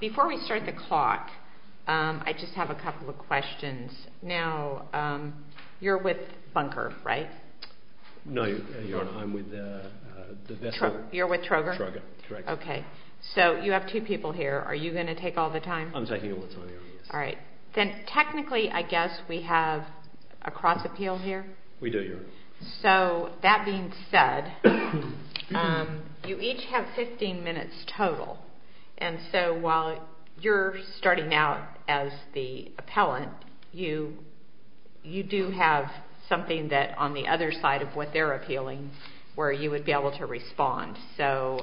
Before we start the clock, I just have a couple of questions. Now, you're with Bunker, right? No, Your Honor, I'm with the v. Trogir. You're with Trogir? Trogir, correct. Okay. So, you have two people here. Are you going to take all the time? I'm taking all the time, Your Honor, yes. All right. Then, technically, I guess we have a cross-appeal here? We do, Your Honor. So, that being said, you each have 15 minutes total. And so, while you're starting out as the appellant, you do have something that, on the other side of what they're appealing, where you would be able to respond. So,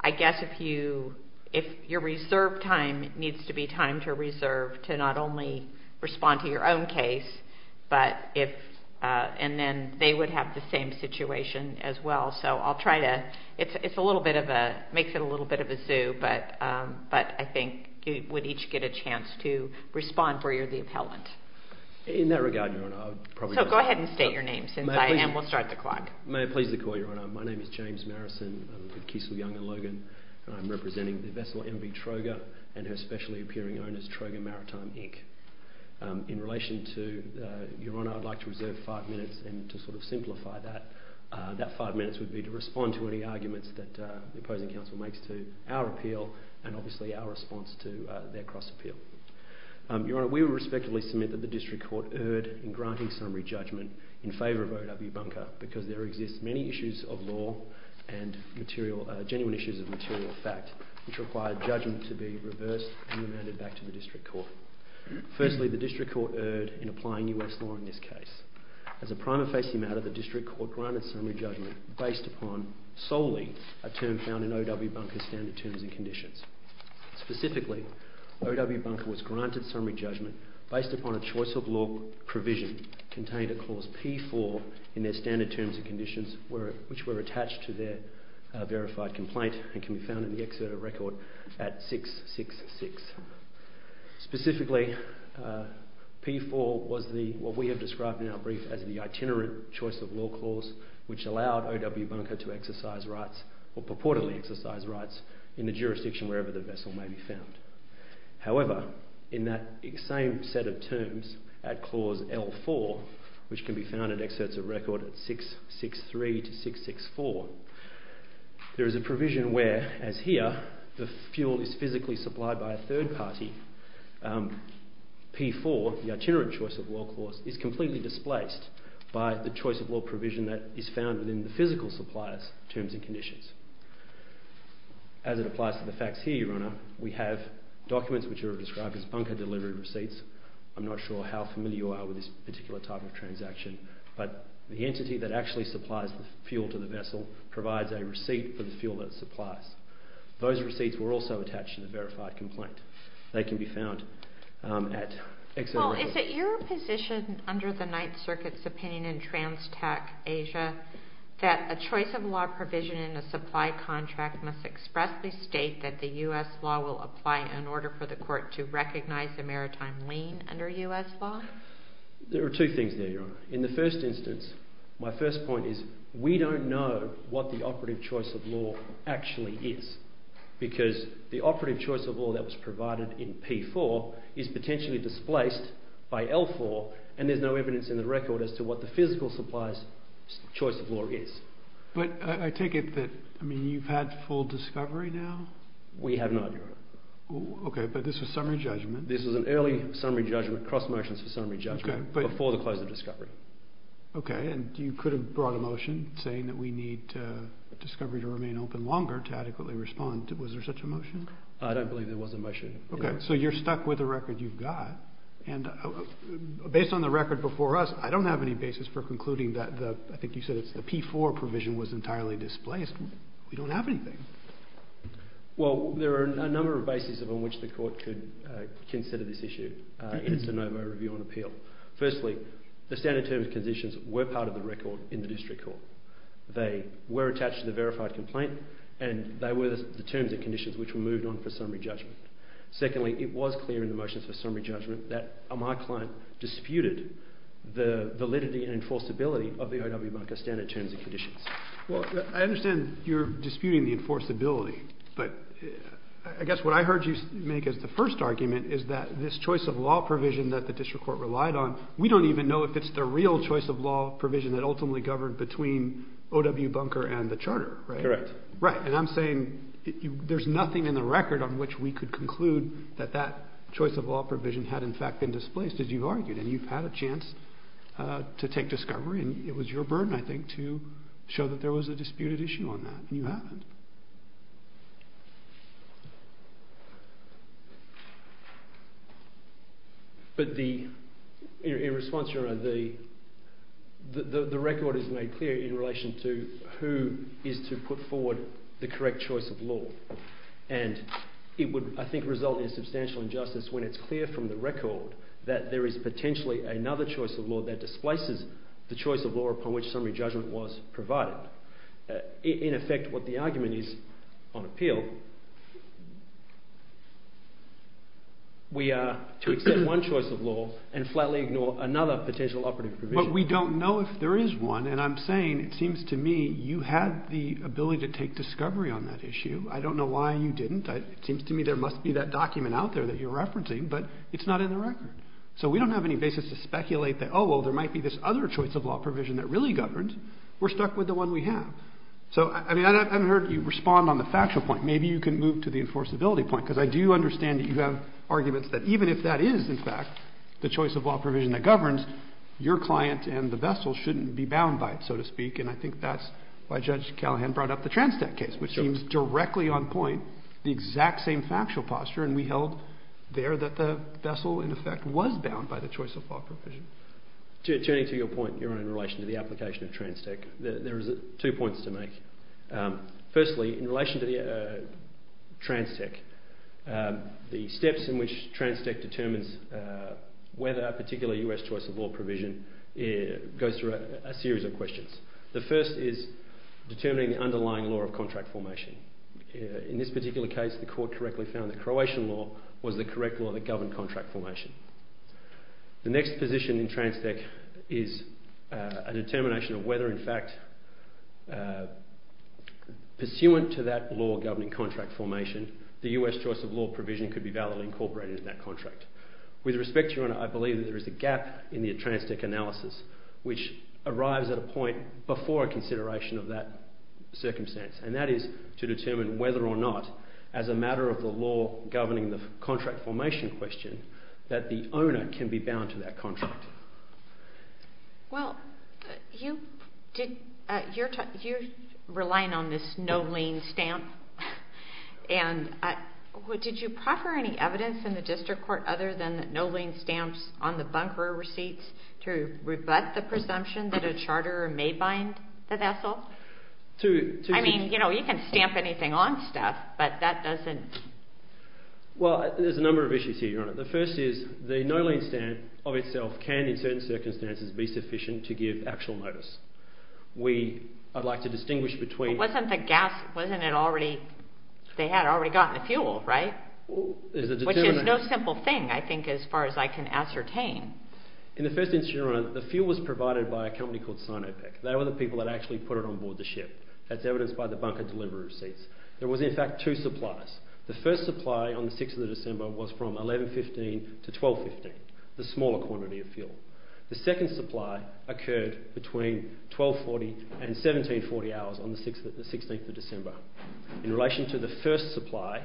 I guess if you reserve time, it needs to be time to reserve to not only respond to your own case, and then they would have the same situation as well. So, I'll try to – it's a little bit of a – makes it a little bit of a zoo, but I think you would each get a chance to respond where you're the appellant. In that regard, Your Honor, I would probably – So, go ahead and state your names, and we'll start the clock. May I please call, Your Honor? My name is James Marison. I'm with Kiesel, Young & Logan, and I'm representing the vessel MV Trogir and her specially appearing owners, Trogir Maritime, Inc. In relation to – Your Honor, I'd like to reserve five minutes, and to sort of simplify that, that five minutes would be to respond to any arguments that the opposing counsel makes to our appeal, and obviously our response to their cross-appeal. Your Honor, we will respectively submit that the District Court erred in granting summary judgment in favour of O.W. Bunker because there exist many issues of law and genuine issues of material fact which require judgment to be reversed and remanded back to the District Court. Firstly, the District Court erred in applying U.S. law in this case. As a prima facie matter, the District Court granted summary judgment based upon solely a term found in O.W. Bunker's standard terms and conditions. Specifically, O.W. Bunker was granted summary judgment based upon a choice of law provision contained in Clause P4 in their standard terms and conditions, which were attached to their verified complaint and can be found in the exerted record at 666. Specifically, P4 was what we have described in our brief as the itinerant choice of law clause which allowed O.W. Bunker to exercise rights, or purportedly exercise rights, in the jurisdiction wherever the vessel may be found. However, in that same set of terms at Clause L4, which can be found in exerted record at 663 to 664, there is a provision where, as here, the fuel is physically supplied by a third party, P4, the itinerant choice of law clause, is completely displaced by the choice of law provision that is found within the physical supplier's terms and conditions. As it applies to the facts here, Your Honour, we have documents which are described as bunker delivery receipts. I'm not sure how familiar you are with this particular type of transaction, but the entity that actually supplies the fuel to the vessel provides a receipt for the fuel that it supplies. Those receipts were also attached to the verified complaint. They can be found at... Well, is it your position, under the Ninth Circuit's opinion in TransTac Asia, that a choice of law provision in a supply contract must expressly state that the U.S. law will apply in order for the court to recognize a maritime lien under U.S. law? There are two things there, Your Honour. In the first instance, my first point is, we don't know what the operative choice of law actually is, because the operative choice of law that was provided in P4 is potentially displaced by L4, and there's no evidence in the record as to what the physical supplier's choice of law is. But I take it that, I mean, you've had full discovery now? We have not, Your Honour. Okay, but this was summary judgment. This was an early summary judgment, cross motions for summary judgment, before the close of discovery. Okay, and you could have brought a motion saying that we need discovery to remain open longer to adequately respond. Was there such a motion? I don't believe there was a motion. Okay, so you're stuck with the record you've got, and based on the record before us, I don't have any basis for concluding that the, I think you said it's the P4 provision was entirely displaced. We don't have anything. Well, there are a number of bases on which the court could consider this issue in its de novo review and appeal. Firstly, the standard terms and conditions were part of the record in the district court. They were attached to the verified complaint, and they were the terms and conditions which were moved on for summary judgment. Secondly, it was clear in the motions for summary judgment that my client disputed the validity and enforceability of the OW bunker standard terms and conditions. Well, I understand you're disputing the enforceability, but I guess what I heard you make as the first argument is that this choice of law provision that the district court relied on, we don't even know if it's the real choice of law provision that ultimately governed between OW bunker and the charter. Correct. Right, and I'm saying there's nothing in the record on which we could conclude that that choice of law provision had in fact been displaced, as you've argued, and you've had a chance to take discovery, and it was your burden, I think, to show that there was a disputed issue on that, and you haven't. But the... In response, Your Honour, the record is made clear in relation to who is to put forward the correct choice of law, and it would, I think, result in substantial injustice when it's clear from the record that there is potentially another choice of law that displaces the choice of law upon which summary judgment was provided. In effect, what the argument is, on appeal, we are to accept one choice of law and flatly ignore another potential operative provision. But we don't know if there is one, and I'm saying it seems to me you had the ability to take discovery on that issue. I don't know why you didn't. It seems to me there must be that document out there that you're referencing, but it's not in the record. So we don't have any basis to speculate that, oh, well, there might be this other choice of law provision that really governed. We're stuck with the one we have. So, I mean, I haven't heard you respond on the factual point. Maybe you can move to the enforceability point, because I do understand that you have arguments that even if that is, in fact, the choice of law provision that governs, your client and the vessel shouldn't be bound by it, so to speak, and I think that's why Judge Callahan brought up the Transtech case, which seems directly on point, the exact same factual posture, and we held there that the vessel, in effect, was bound by the choice of law provision. Turning to your point, Your Honor, in relation to the application of Transtech, there are two points to make. Firstly, in relation to Transtech, the steps in which Transtech determines whether a particular US choice of law provision goes through a series of questions. The first is determining the underlying law of contract formation. In this particular case, the court correctly found that Croatian law was the correct law that governed contract formation. The next position in Transtech is a determination of whether, in fact, pursuant to that law governing contract formation, the US choice of law provision could be validly incorporated in that contract. With respect, Your Honor, I believe that there is a gap in the Transtech analysis, which arrives at a point before a consideration of that circumstance, and that is to determine whether or not, as a matter of the law governing the contract formation question, that the owner can be bound to that contract. Well, you're relying on this no lien stamp, and did you proffer any evidence in the district court other than no lien stamps on the bunker receipts to rebut the presumption that a charterer may bind the vessel? I mean, you know, you can stamp anything on stuff, but that doesn't... Well, there's a number of issues here, Your Honor. The first is the no lien stamp of itself can, in certain circumstances, be sufficient to give actual notice. We... I'd like to distinguish between... But wasn't the gas... wasn't it already... they had already gotten the fuel, right? Well, there's a determination... Which is no simple thing, I think, as far as I can ascertain. In the first instance, Your Honor, the fuel was provided by a company called Sinopec. They were the people that actually put it on board the ship. That's evidenced by the bunker delivery receipts. There was, in fact, two suppliers. The first supply on the 6th of December was from 11.15 to 12.15, the smaller quantity of fuel. The second supply occurred between 12.40 and 17.40 hours on the 16th of December. In relation to the first supply,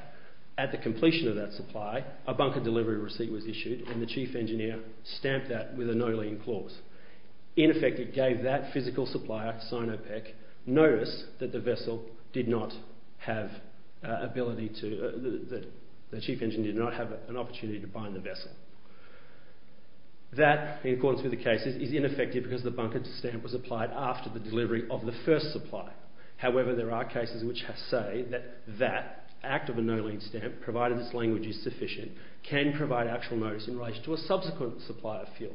at the completion of that supply, a bunker delivery receipt was issued, and the chief engineer stamped that with a no lien clause. In effect, it gave that physical supplier, Sinopec, notice that the vessel did not have ability to... that the chief engineer did not have an opportunity to bind the vessel. That, in accordance with the cases, is ineffective because the bunker stamp was applied after the delivery of the first supply. However, there are cases which say that that act of a no lien stamp, provided its language is sufficient, can provide actual notice in relation to a subsequent supply of fuel.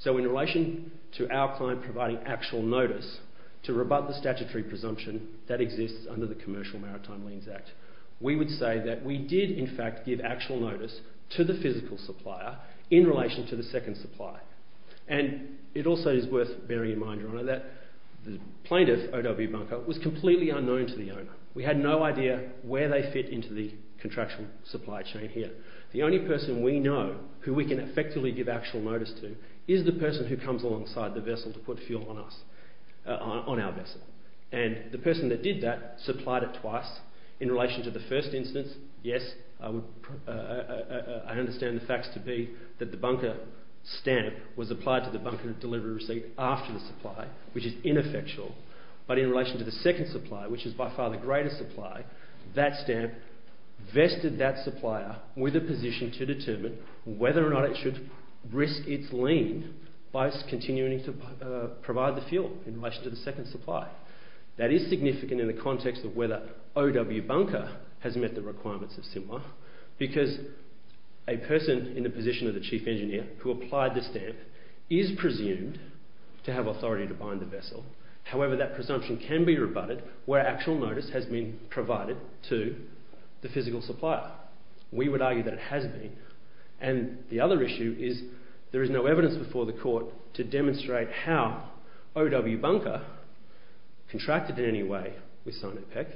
So in relation to our client providing actual notice to rebut the statutory presumption that exists under the Commercial Maritime Liens Act, we would say that we did, in fact, give actual notice to the physical supplier in relation to the second supply. And it also is worth bearing in mind, Your Honour, that the plaintiff, O.W. Bunker, was completely unknown to the owner. We had no idea where they fit into the contractual supply chain here. who we can effectively give actual notice to is the person who comes alongside the vessel to put fuel on our vessel. And the person that did that supplied it twice. In relation to the first instance, yes, I understand the facts to be that the bunker stamp was applied to the bunker delivery receipt after the supply, which is ineffectual. But in relation to the second supply, which is by far the greatest supply, that stamp vested that supplier with a position to determine whether or not it should risk its lien by continuing to provide the fuel in relation to the second supply. That is significant in the context of whether O.W. Bunker has met the requirements of SIMR because a person in the position of the chief engineer who applied the stamp is presumed to have authority to bind the vessel. However, that presumption can be rebutted where actual notice has been provided to the physical supplier. We would argue that it has been. And the other issue is there is no evidence before the court to demonstrate how O.W. Bunker contracted in any way with Sinopec.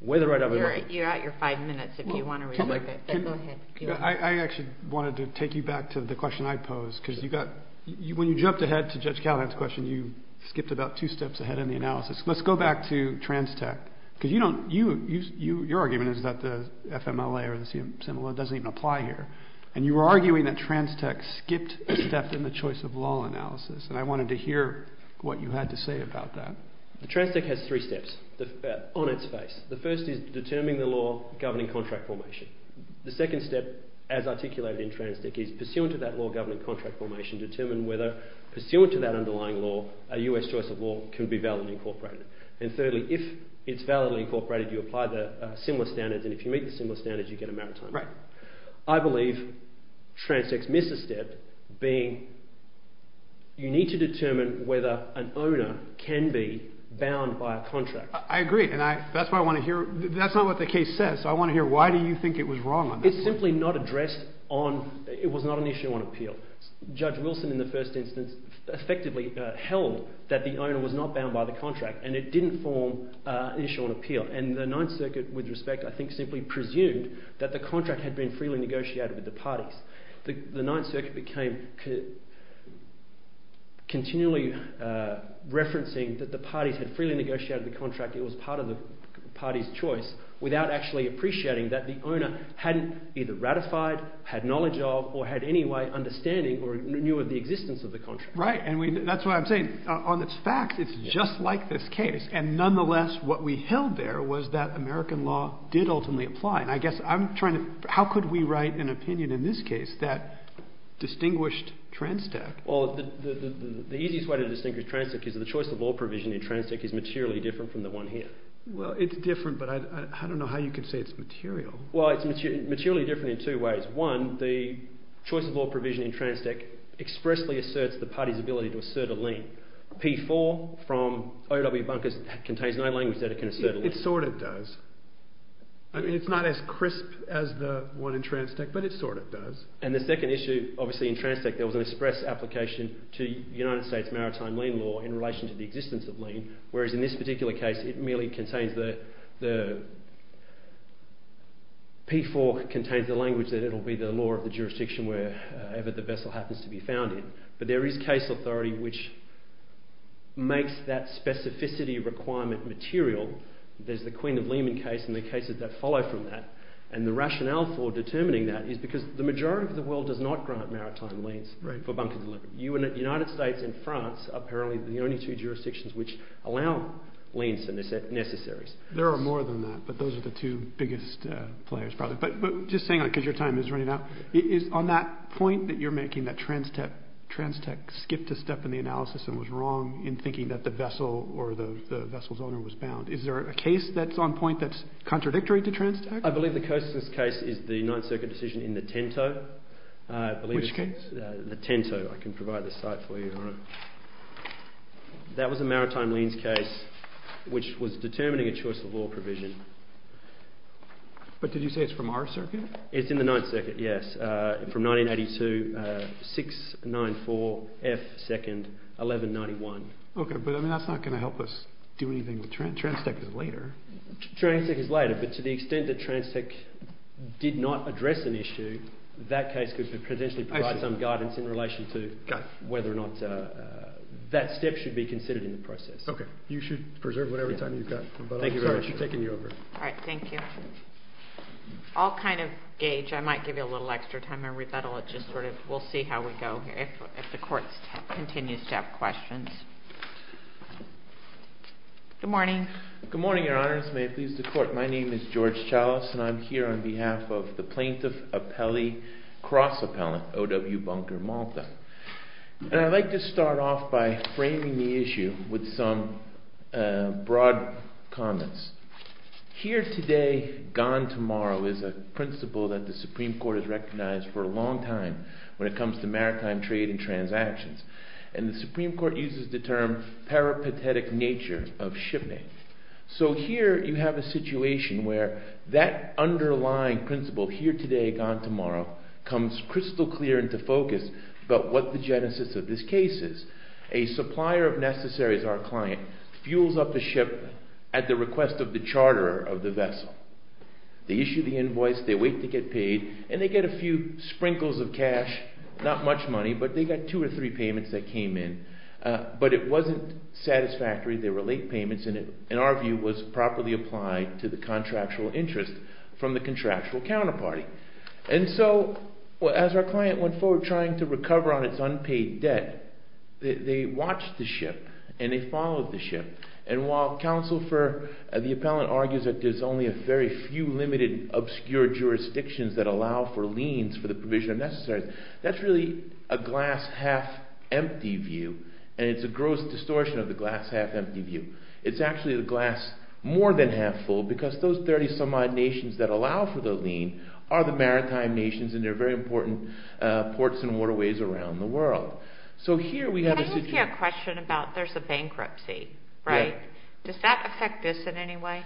Whether O.W. Bunker... You're at your five minutes if you want to rebut it. I actually wanted to take you back to the question I posed. When you jumped ahead to Judge Callahan's question, you skipped about two steps ahead in the analysis. Let's go back to TransTech. Your argument is that the FMLA or the CM symbol doesn't even apply here. And you were arguing that TransTech skipped a step in the choice of law analysis. And I wanted to hear what you had to say about that. TransTech has three steps on its face. The first is determining the law governing contract formation. The second step, as articulated in TransTech, is pursuant to that law governing contract formation, determine whether, pursuant to that underlying law, a US choice of law can be validly incorporated. And thirdly, if it's validly incorporated, you apply the SIMR standards, and if you meet the SIMR standards, you get a maritime warrant. Right. I believe TransTech's misstep being you need to determine whether an owner can be bound by a contract. I agree, and that's why I want to hear... That's not what the case says. I want to hear why do you think it was wrong on that one. It's simply not addressed on... It was not an issue on appeal. Judge Wilson, in the first instance, effectively held that the owner was not bound by the contract, and it didn't form an issue on appeal. And the Ninth Circuit, with respect, I think simply presumed that the contract had been freely negotiated with the parties. The Ninth Circuit became continually referencing that the parties had freely negotiated the contract, it was part of the party's choice, without actually appreciating that the owner hadn't either ratified, had knowledge of, or had any way of understanding or knew of the existence of the contract. Right, and that's what I'm saying. On its facts, it's just like this case. And nonetheless, what we held there was that American law did ultimately apply. And I guess I'm trying to... How could we write an opinion in this case that distinguished Transtech? Well, the easiest way to distinguish Transtech is that the choice of law provision in Transtech is materially different from the one here. Well, it's different, but I don't know how you could say it's material. Well, it's materially different in two ways. One, the choice of law provision in Transtech expressly asserts the party's ability to assert a lien. P4 from O. W. Bunker's contains no language that it can assert a lien. Well, it sort of does. I mean, it's not as crisp as the one in Transtech, but it sort of does. And the second issue, obviously, in Transtech, there was an express application to the United States Maritime Lien Law in relation to the existence of lien, whereas in this particular case, it merely contains the... P4 contains the language that it'll be the law of the jurisdiction wherever the vessel happens to be found in. But there is case authority which makes that specificity requirement material. There's the Queen of Lehman case and the cases that follow from that. And the rationale for determining that is because the majority of the world does not grant maritime liens for bunker delivery. The United States and France are apparently the only two jurisdictions which allow liens that are necessary. There are more than that, but those are the two biggest players, probably. But just saying, because your time is running out, is on that point that you're making, that Transtech skipped a step in the analysis and was wrong in thinking that the vessel or the vessel's owner was bound. Is there a case that's on point that's contradictory to Transtech? I believe the closest case is the Ninth Circuit decision in the Tinto. The Tinto. I can provide the site for you, Your Honour. That was a maritime liens case which was determining a choice of law provision. But did you say it's from our circuit? It's in the Ninth Circuit, yes. From 1982, 694 F 2nd, 1191. Okay, but that's not going to help us do anything with Transtech later. Transtech is later, but to the extent that Transtech did not address an issue, that case could potentially provide some guidance in relation to whether or not that step should be considered in the process. Okay, you should preserve whatever time you've got. Thank you very much. Sorry for taking you over. All right, thank you. I'll kind of gauge. I might give you a little extra time. We'll see how we go if the Court continues to have questions. Good morning. Good morning, Your Honours. May it please the Court. My name is George Chalice, and I'm here on behalf of the plaintiff appellee, cross-appellant, O.W. Bunker Malta. And I'd like to start off by framing the issue with some broad comments. Here Today, Gone Tomorrow is a principle that the Supreme Court has recognized for a long time when it comes to maritime trade and transactions. And the Supreme Court uses the term peripatetic nature of shipping. So here you have a situation where that underlying principle, Here Today, Gone Tomorrow, comes crystal clear into focus about what the genesis of this case is. A supplier of necessaries, our client, fuels up a ship at the request of the charterer of the vessel. They issue the invoice, they wait to get paid, and they get a few sprinkles of cash, not much money, but they got two or three payments that came in. But it wasn't satisfactory, they were late payments, and it, in our view, was properly applied to the contractual interest from the contractual counterparty. And so, as our client went forward trying to recover on its unpaid debt, they watched the ship, and they followed the ship. And while counsel for the appellant argues that there's only a very few limited obscure jurisdictions that allow for liens for the provision of necessaries, that's really a glass-half-empty view, and it's a gross distortion of the glass-half-empty view. It's actually the glass more than half full because those 30-some-odd nations that allow for the lien are the maritime nations, and they're very important ports and waterways around the world. Can I ask you a question about there's a bankruptcy, right? Does that affect this in any way?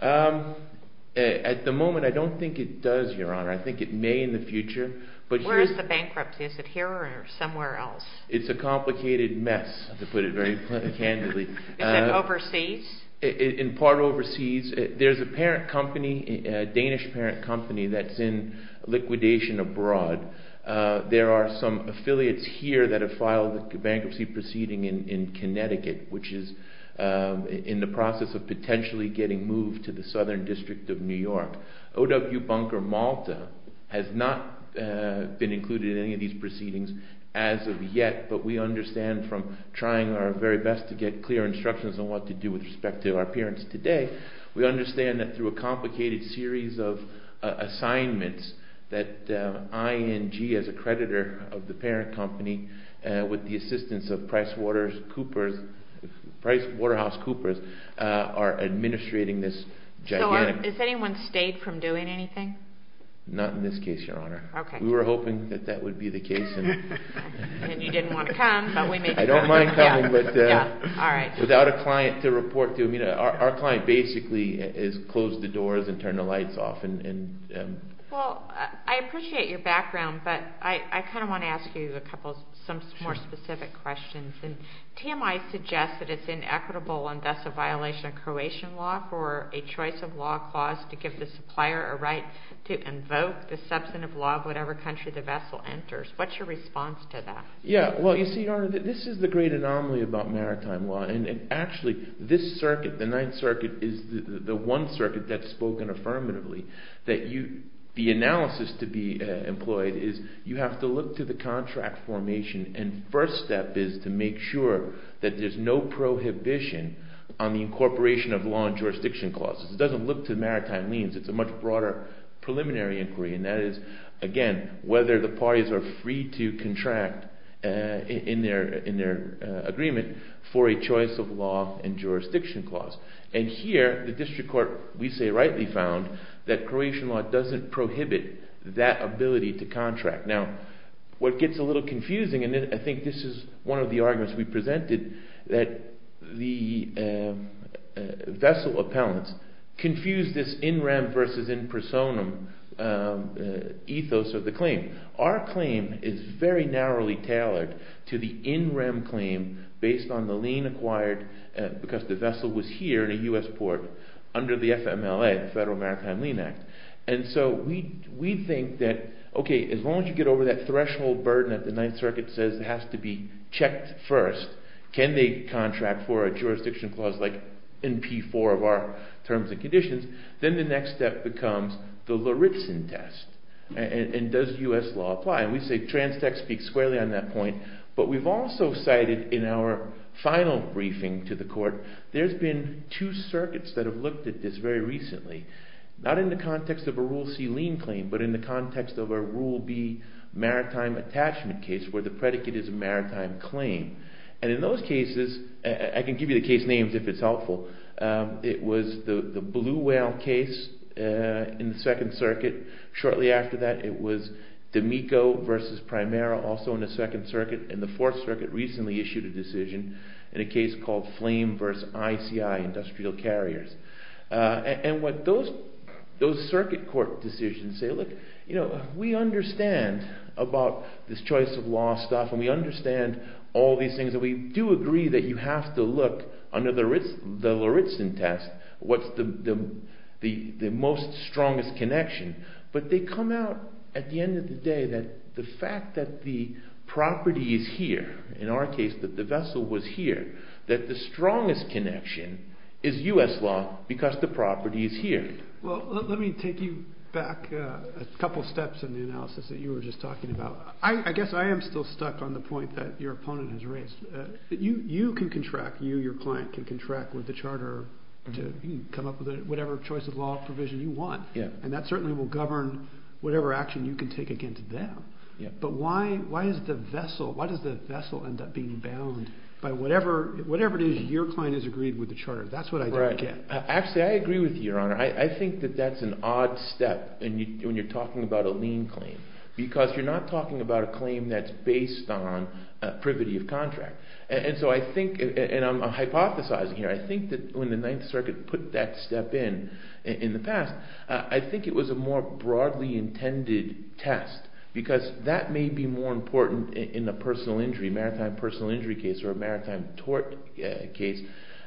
At the moment, I don't think it does, Your Honor. I think it may in the future. Where is the bankruptcy? Is it here or somewhere else? It's a complicated mess, to put it very candidly. Is it overseas? In part overseas. There's a parent company, a Danish parent company, that's in liquidation abroad. There are some affiliates here that have filed a bankruptcy proceeding in Connecticut, which is in the process of potentially getting moved to the Southern District of New York. O.W. Bunker Malta has not been included in any of these proceedings as of yet, but we understand from trying our very best to get clear instructions on what to do with respect to our parents today, we understand that through a complicated series of assignments that ING, as a creditor of the parent company, with the assistance of PricewaterhouseCoopers, are administrating this gigantic... Has anyone stayed from doing anything? Not in this case, Your Honor. We were hoping that that would be the case. And you didn't want to come, but we made you come. I don't mind coming, but without a client to report to. Our client basically has closed the doors and turned the lights off. Well, I appreciate your background, but I kind of want to ask you some more specific questions. TMI suggests that it's inequitable and thus a violation of Croatian law for a choice of law clause to give the supplier a right to invoke the substantive law of whatever country the vessel enters. What's your response to that? Yeah. Well, you see, Your Honor, this is the great anomaly about maritime law. And actually, this circuit, the Ninth Circuit, is the one circuit that's spoken affirmatively. The analysis to be employed is you have to look to the contract formation. And the first step is to make sure that there's no prohibition on the incorporation of law and jurisdiction clauses. It doesn't look to maritime liens. It's a much broader preliminary inquiry. And that is, again, whether the parties are free to contract in their agreement for a choice of law and jurisdiction clause. And here, the district court, we say rightly found, that Croatian law doesn't prohibit that ability to contract. Now, what gets a little confusing, and I think this is one of the arguments we presented, that the vessel appellants confuse this in rem versus in personam ethos of the claim. Our claim is very narrowly tailored to the in rem claim based on the lien acquired because the vessel was here in a U.S. port under the FMLA, the Federal Maritime Lien Act. And so we think that, okay, as long as you get over that threshold burden that the Ninth Circuit says has to be checked first, can they contract for a jurisdiction clause like in P4 of our terms and conditions, then the next step becomes the Luritsen test. And does U.S. law apply? And we say transtex speaks squarely on that point. But we've also cited in our final briefing to the court, there's been two circuits that have looked at this very recently. Not in the context of a Rule C lien claim, but in the context of a Rule B maritime attachment case where the predicate is a maritime claim. And in those cases, I can give you the case names if it's helpful. It was the Blue Whale case in the Second Circuit. Shortly after that it was D'Amico versus Primera, also in the Second Circuit. And the Fourth Circuit recently issued a decision in a case called Flame versus ICI, Industrial Carriers. And what those circuit court decisions say, look, you know, we understand about this choice of law stuff and we understand all these things and we do agree that you have to look under the Luritsen test what's the most strongest connection. But they come out at the end of the day that the fact that the property is here, in our case, that the vessel was here, that the strongest connection is U.S. law because the property is here. Well, let me take you back a couple steps in the analysis that you were just talking about. I guess I am still stuck on the point that your opponent has raised. You can contract, you, your client, can contract with the Charter to come up with whatever choice of law provision you want. And that certainly will govern whatever action you can take against them. But why is the vessel, why does the vessel end up being bound by whatever it is your client has agreed with the Charter? That's what I don't get. Actually, I agree with you, Your Honor. I think that that's an odd step when you're talking about a lien claim. Because you're not talking about a claim that's based on privity of contract. And so I think, and I'm hypothesizing here, I think that when the Ninth Circuit put that step in, in the past, I think it was a more broadly intended test. Because that may be more important in a personal injury, maritime personal injury case, or a maritime tort case,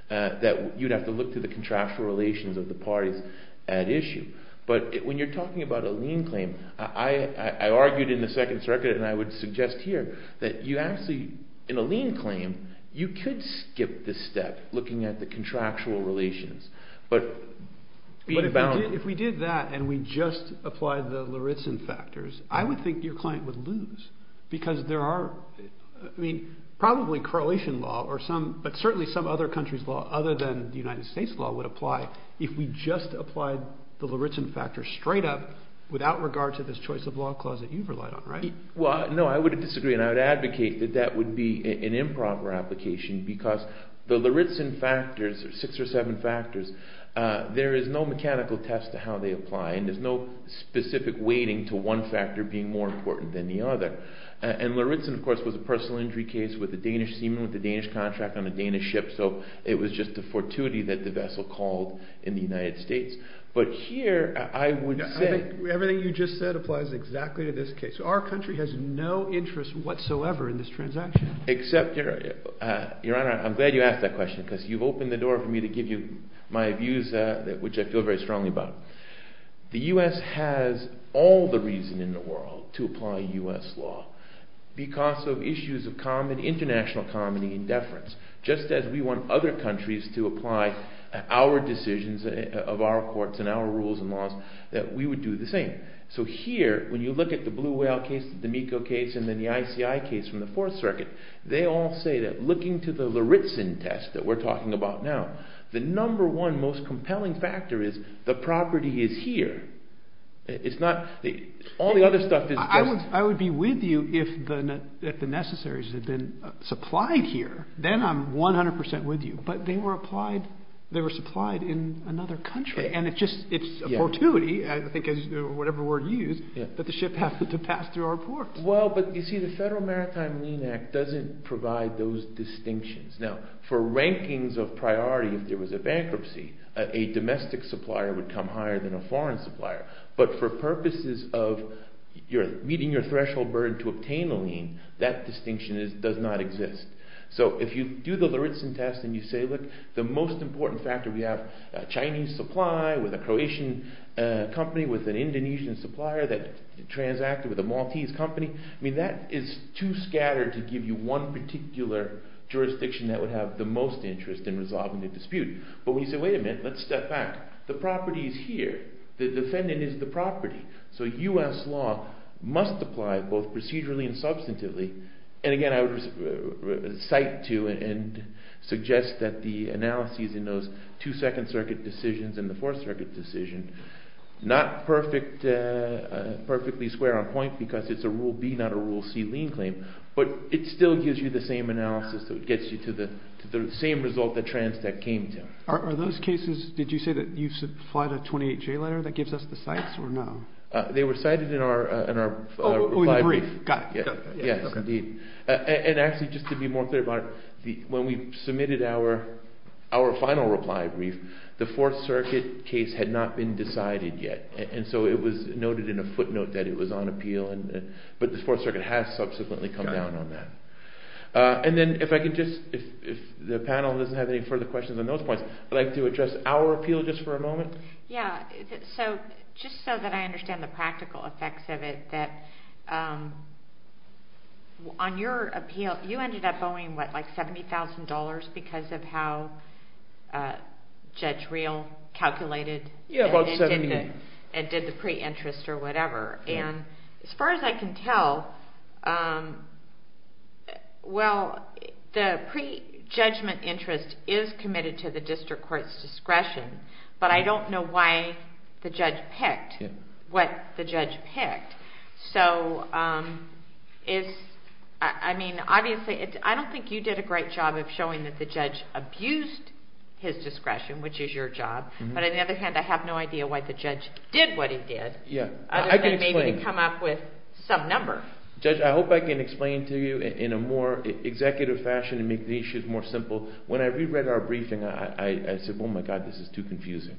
that you'd have to look to the contractual relations of the parties at issue. But when you're talking about a lien claim, I argued in the Second Circuit, and I would suggest here, that you actually, in a lien claim, you could skip this step, looking at the contractual relations. But being bound... But if we did that, and we just applied the Loritzen factors, I would think your client would lose. Because there are, I mean, probably correlation law, but certainly some other country's law, other than the United States law, would apply, if we just applied the Loritzen factors straight up, without regard to this choice of law clause that you've relied on, right? Well, no, I would disagree, and I would advocate that that would be an improper application, because the Loritzen factors, six or seven factors, there is no mechanical test to how they apply, and there's no specific weighting to one factor being more important than the other. And Loritzen, of course, was a personal injury case with a Danish seaman with a Danish contract on a Danish ship, so it was just the fortuity that the vessel called in the United States. But here, I would say... Everything you just said applies exactly to this case. Our country has no interest whatsoever in this transaction. Except, Your Honor, I'm glad you asked that question, because you've opened the door for me to give you my views, which I feel very strongly about. The U.S. has all the reason in the world to apply U.S. law, because of issues of common, international common, and deference. Just as we want other countries to apply our decisions of our courts and our rules and laws, that we would do the same. So here, when you look at the Blue Whale case, the D'Amico case, and then the ICI case from the Fourth Circuit, they all say that looking to the Loritzen test that we're talking about now, the number one most compelling factor is the property is here. It's not... All the other stuff is... I would be with you if the necessaries had been supplied here. Then I'm 100% with you. But they were supplied in another country. And it's just... It's a fortuity, I think, whatever word you use, that the ship has to pass through our ports. Well, but you see, the Federal Maritime Lien Act doesn't provide those distinctions. Now, for rankings of priority, if there was a bankruptcy, a domestic supplier would come higher than a foreign supplier. But for purposes of meeting your threshold burden to obtain a lien, that distinction does not exist. So if you do the Loritzen test and you say, look, the most important factor, we have a Chinese supply with a Croatian company with an Indonesian supplier that transacted with a Maltese company. I mean, that is too scattered to give you one particular jurisdiction that would have the most interest in resolving the dispute. But when you say, wait a minute, let's step back. The property is here. The defendant is the property. So U.S. law must apply both procedurally and substantively. And again, I would cite to and suggest that the analyses in those two Second Circuit decisions and the Fourth Circuit decision, not perfectly square on point because it's a Rule B, not a Rule C lien claim. But it still gives you the same analysis that gets you to the same result that Transtec came to. Are those cases, did you say that you supplied a 28-J letter that gives us the cites or no? They were cited in our brief. Got it. Yes, indeed. And actually, just to be more clear about it, when we submitted our final reply brief, the Fourth Circuit case had not been decided yet. And so it was noted in a footnote that it was on appeal. But the Fourth Circuit has subsequently come down on that. And then if I could just, if the panel doesn't have any further questions on those points, I'd like to address our appeal just for a moment. Yeah. So just so that I understand the practical effects of it, that on your appeal, you ended up owing, what, like $70,000 because of how Judge Reel calculated and did the pre-interest or whatever. And as far as I can tell, well, the pre-judgment interest is committed to the district court's discretion. But I don't know why the judge picked, what the judge picked. So I mean, obviously, I don't think you did a great job of showing that the judge abused his discretion, which is your job. But on the other hand, I have no idea why the judge did what he did. Yeah. I can explain. Other than maybe to come up with some number. Judge, I hope I can explain to you in a more executive fashion and make the issues more simple. When I reread our briefing, I said, oh my God, this is too confusing.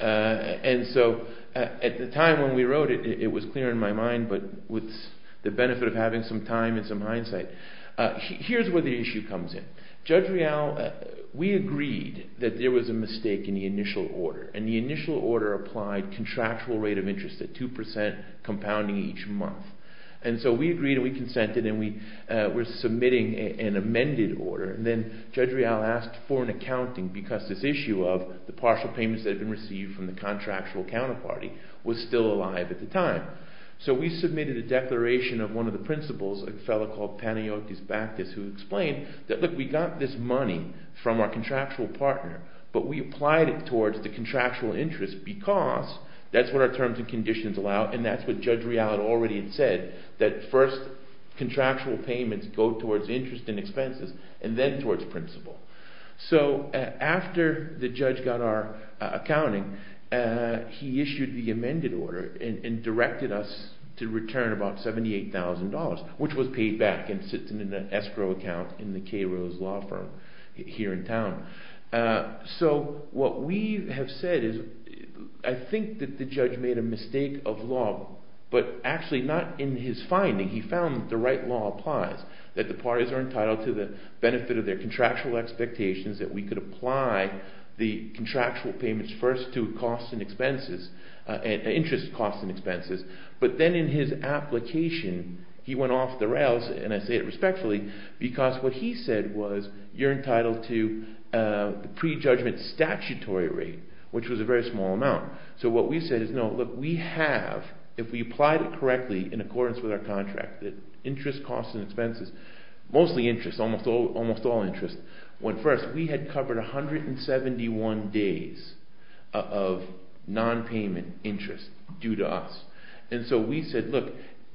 And so at the time when we wrote it, it was clear in my mind, but with the benefit of having some time and some hindsight. Here's where the issue comes in. Judge Reel, we agreed that there was a mistake in the initial order. And the initial order applied contractual rate of interest at 2% compounding each month. And so we agreed and we consented and we were submitting an amended order. And then Judge Reel asked for an accounting because this issue of the partial payments that had been received from the contractual counterparty was still alive at the time. So we submitted a declaration of one of the principals, a fellow called Paniotis Bactis who explained that, look, we got this money from our contractual partner, but we applied it towards the contractual interest because that's what our terms and conditions allow. And that's what Judge Reel had already said, that first contractual payments go towards interest and expenses and then towards principal. So after the judge got our accounting, he issued the amended order and directed us to return about $78,000, which was paid back and sits in an escrow account in the K. Rose law firm here in town. So what we have said is I think that the judge made a mistake of law, but actually not in his finding. He found that the right law applies, that the parties are entitled to the benefit of their contractual expectations, that we could apply the contractual payments first to costs and expenses, interest costs and expenses, but then in his application he went off the rails, and I say it respectfully, because what he said was you're entitled to the prejudgment statutory rate, which was a very small amount. So what we said is, no, look, we have, if we applied it correctly in accordance with our contract, that interest costs and expenses, mostly interest, almost all interest, went first. We had covered 171 days of non-payment interest due to us, and so we said, look,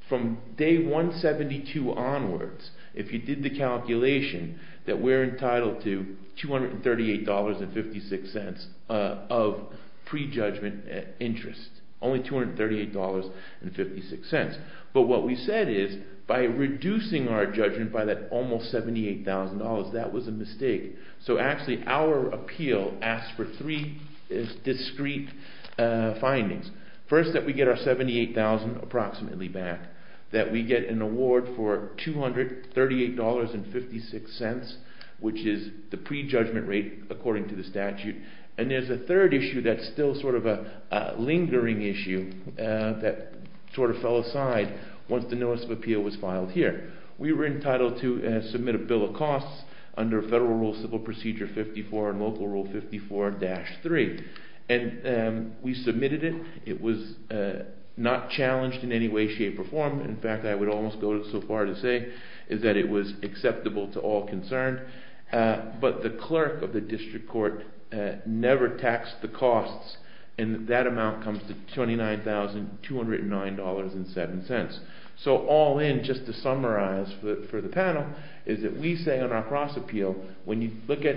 from day 172 onwards, if you did the calculation, that we're entitled to $238.56 of prejudgment interest, only $238.56. But what we said is by reducing our judgment by that almost $78,000, that was a mistake. So actually our appeal asked for three discrete findings. First, that we get our $78,000 approximately back, that we get an award for $238.56, which is the prejudgment rate according to the statute, and there's a third issue that's still sort of a lingering issue that sort of fell aside once the notice of appeal was filed here. We were entitled to submit a bill of costs under Federal Rule Civil Procedure 54 and Local Rule 54-3, and we submitted it. It was not challenged in any way, shape, or form. In fact, I would almost go so far as to say that it was acceptable to all concerned, but the clerk of the district court never taxed the costs, and that amount comes to $29,209.07. So all in, just to summarize for the panel, is that we say based on our cross-appeal, when you look at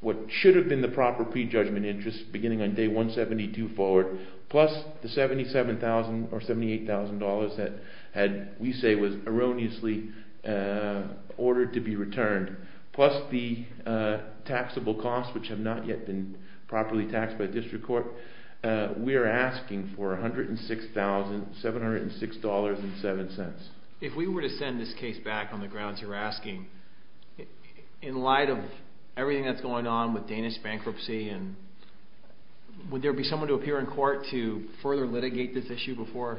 what should have been the proper prejudgment interest beginning on Day 172 forward, plus the $77,000 or $78,000 that we say was erroneously ordered to be returned, plus the taxable costs, which have not yet been properly taxed by the district court, we're asking for $106,706.07. If we were to send this case back on the grounds you're asking, in light of everything that's going on with Danish bankruptcy, would there be someone to appear in court to further litigate this issue before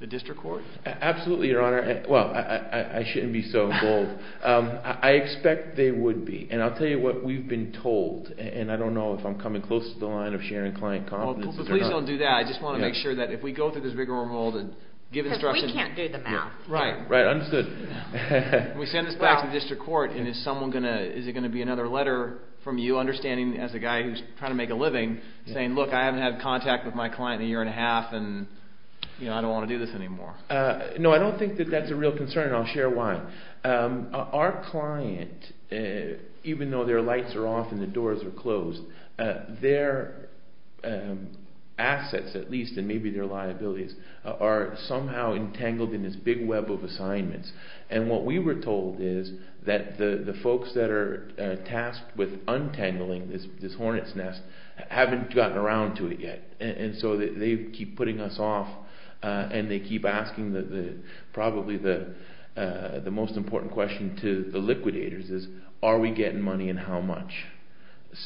the district court? Absolutely, Your Honor. Well, I shouldn't be so bold. I expect there would be, and I'll tell you what we've been told, and I don't know if I'm coming close to the line of sharing client confidence. Well, please don't do that. I just want to make sure that if we go through this rigmarole and give instructions... Because we can't do the math. Right, understood. We send this back to the district court, and is it going to be another letter from you, understanding as a guy who's trying to make a living, saying, look, I haven't had contact with my client in a year and a half, and I don't want to do this anymore? No, I don't think that that's a real concern, and I'll share why. Our client, even though their lights are off and the doors are closed, their assets, at least, and maybe their liabilities, are somehow entangled in this big web of assignments. And what we were told is that the folks that are tasked with untangling this hornet's nest haven't gotten around to it yet. And so they keep putting us off, and they keep asking probably the most important question to the liquidators is are we getting money and how much?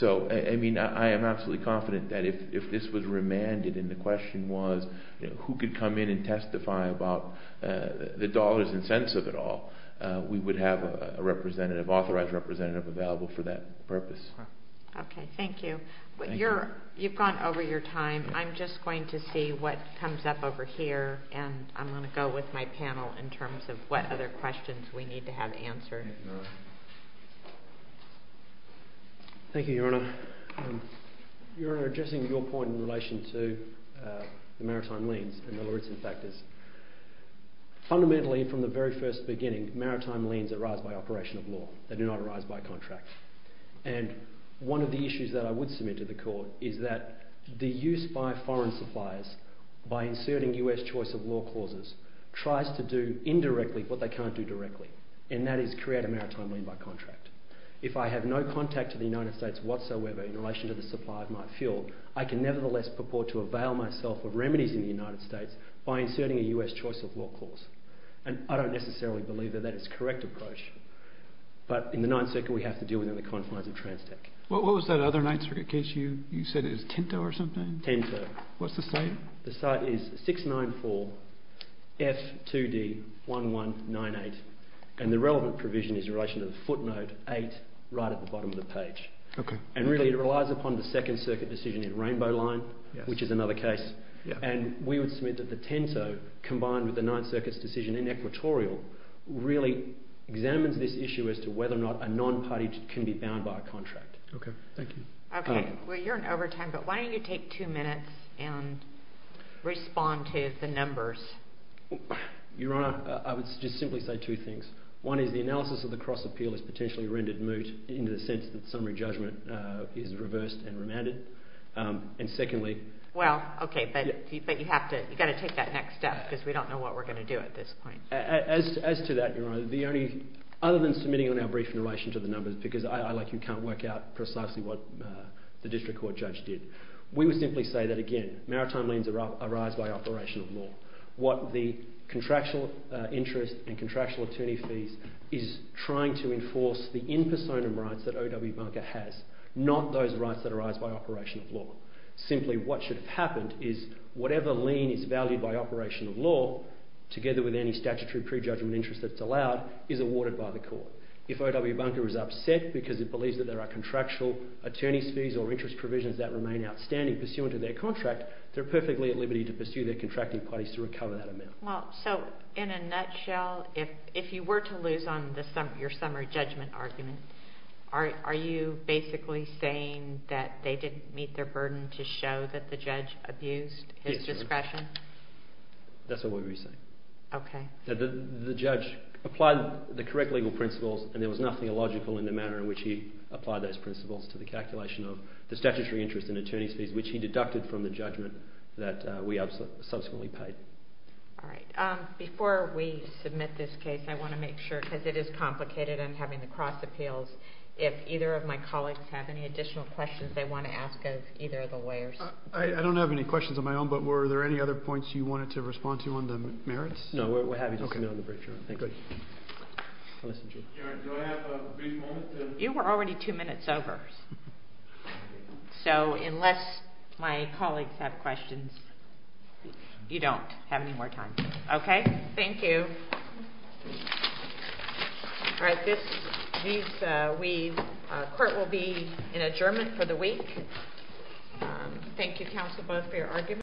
So, I mean, I am absolutely confident that if this was remanded and the question was who could come in and testify about the dollars and cents of it all, we would have a representative, authorized representative, available for that purpose. Okay, thank you. Thank you. You've gone over your time. I'm just going to see what comes up over here, and I'm going to go with my panel in terms of what other questions we need to have answered. Thank you, Your Honor. Your Honor, addressing your point in relation to the maritime liens, and the Lawrenson factors. Fundamentally, from the very first beginning, maritime liens arise by operation of law. They do not arise by contract. And one of the issues that I would submit to the court is that the use by foreign suppliers by inserting U.S. choice of law clauses tries to do indirectly what they can't do directly, and that is create a maritime lien by contract. If I have no contact to the United States whatsoever in relation to the supply of my fuel, I can nevertheless purport to avail myself of remedies in the United States by inserting a U.S. choice of law clause. And I don't necessarily believe that that is the correct approach, but in the Ninth Circuit we have to deal within the confines of TransTech. What was that other Ninth Circuit case you said it was Tinto or something? Tinto. What's the site? The site is 694F2D1198, and the relevant provision is in relation to the footnote 8 right at the bottom of the page. And really, it relies upon the Second Circuit decision in Rainbow Line, which is another case. And we would submit that the Tinto combined with the Ninth Circuit's decision in Equatorial really examines this issue as to whether or not a non-party can be bound by a contract. Okay. Thank you. Okay. Well, you're in overtime, but why don't you take two minutes and respond to the numbers? Your Honor, I would just simply say two things. One is the analysis of the cross-appeal is potentially rendered moot in the sense that summary judgment is reversed and remanded. And secondly... Well, okay, but you have to... you've got to take that next step because we don't know what we're going to do at this point. As to that, Your Honor, the only... other than submitting on our brief in relation to the numbers, because I, like you, can't work out precisely what the district court judge did, we would simply say that, again, maritime liens arise by operation of law. What the contractual interest and contractual attorney fees is trying to enforce the in personam rights that OW Banker has, not those rights that arise by operation of law. Simply, what should have happened is whatever lien is valued by operation of law, together with any statutory prejudgment interest that's allowed, is awarded by the court. If OW Banker is upset because it believes that there are contractual attorney fees or interest provisions that remain outstanding pursuant to their contract, they're perfectly at liberty to pursue their contracting parties to recover that amount. Well, so, in a nutshell, if you were to lose on your summary judgment argument, are you basically saying that they didn't meet their burden to show that the judge abused his discretion? Yes. That's what we're saying. Okay. The judge applied the correct legal principles and there was nothing illogical in the manner in which he applied those principles to the calculation of the statutory interest and attorney fees, which he deducted from the judgment that we subsequently paid. Alright. Before we submit this case, I want to make sure, because it is complicated and I'm having the cross appeals, if either of my colleagues have any additional questions they want to ask of either of the lawyers. I don't have any questions of my own, but were there any other points you wanted to respond to on the merits? No. We're happy to submit on the brief, Your Honor. Thank you. You were already two minutes over. So, unless my colleagues you don't have any more time. Okay? Thank you. Alright. This, these, we, our court will be in adjournment for the week Thank you, counsel, both for your arguments.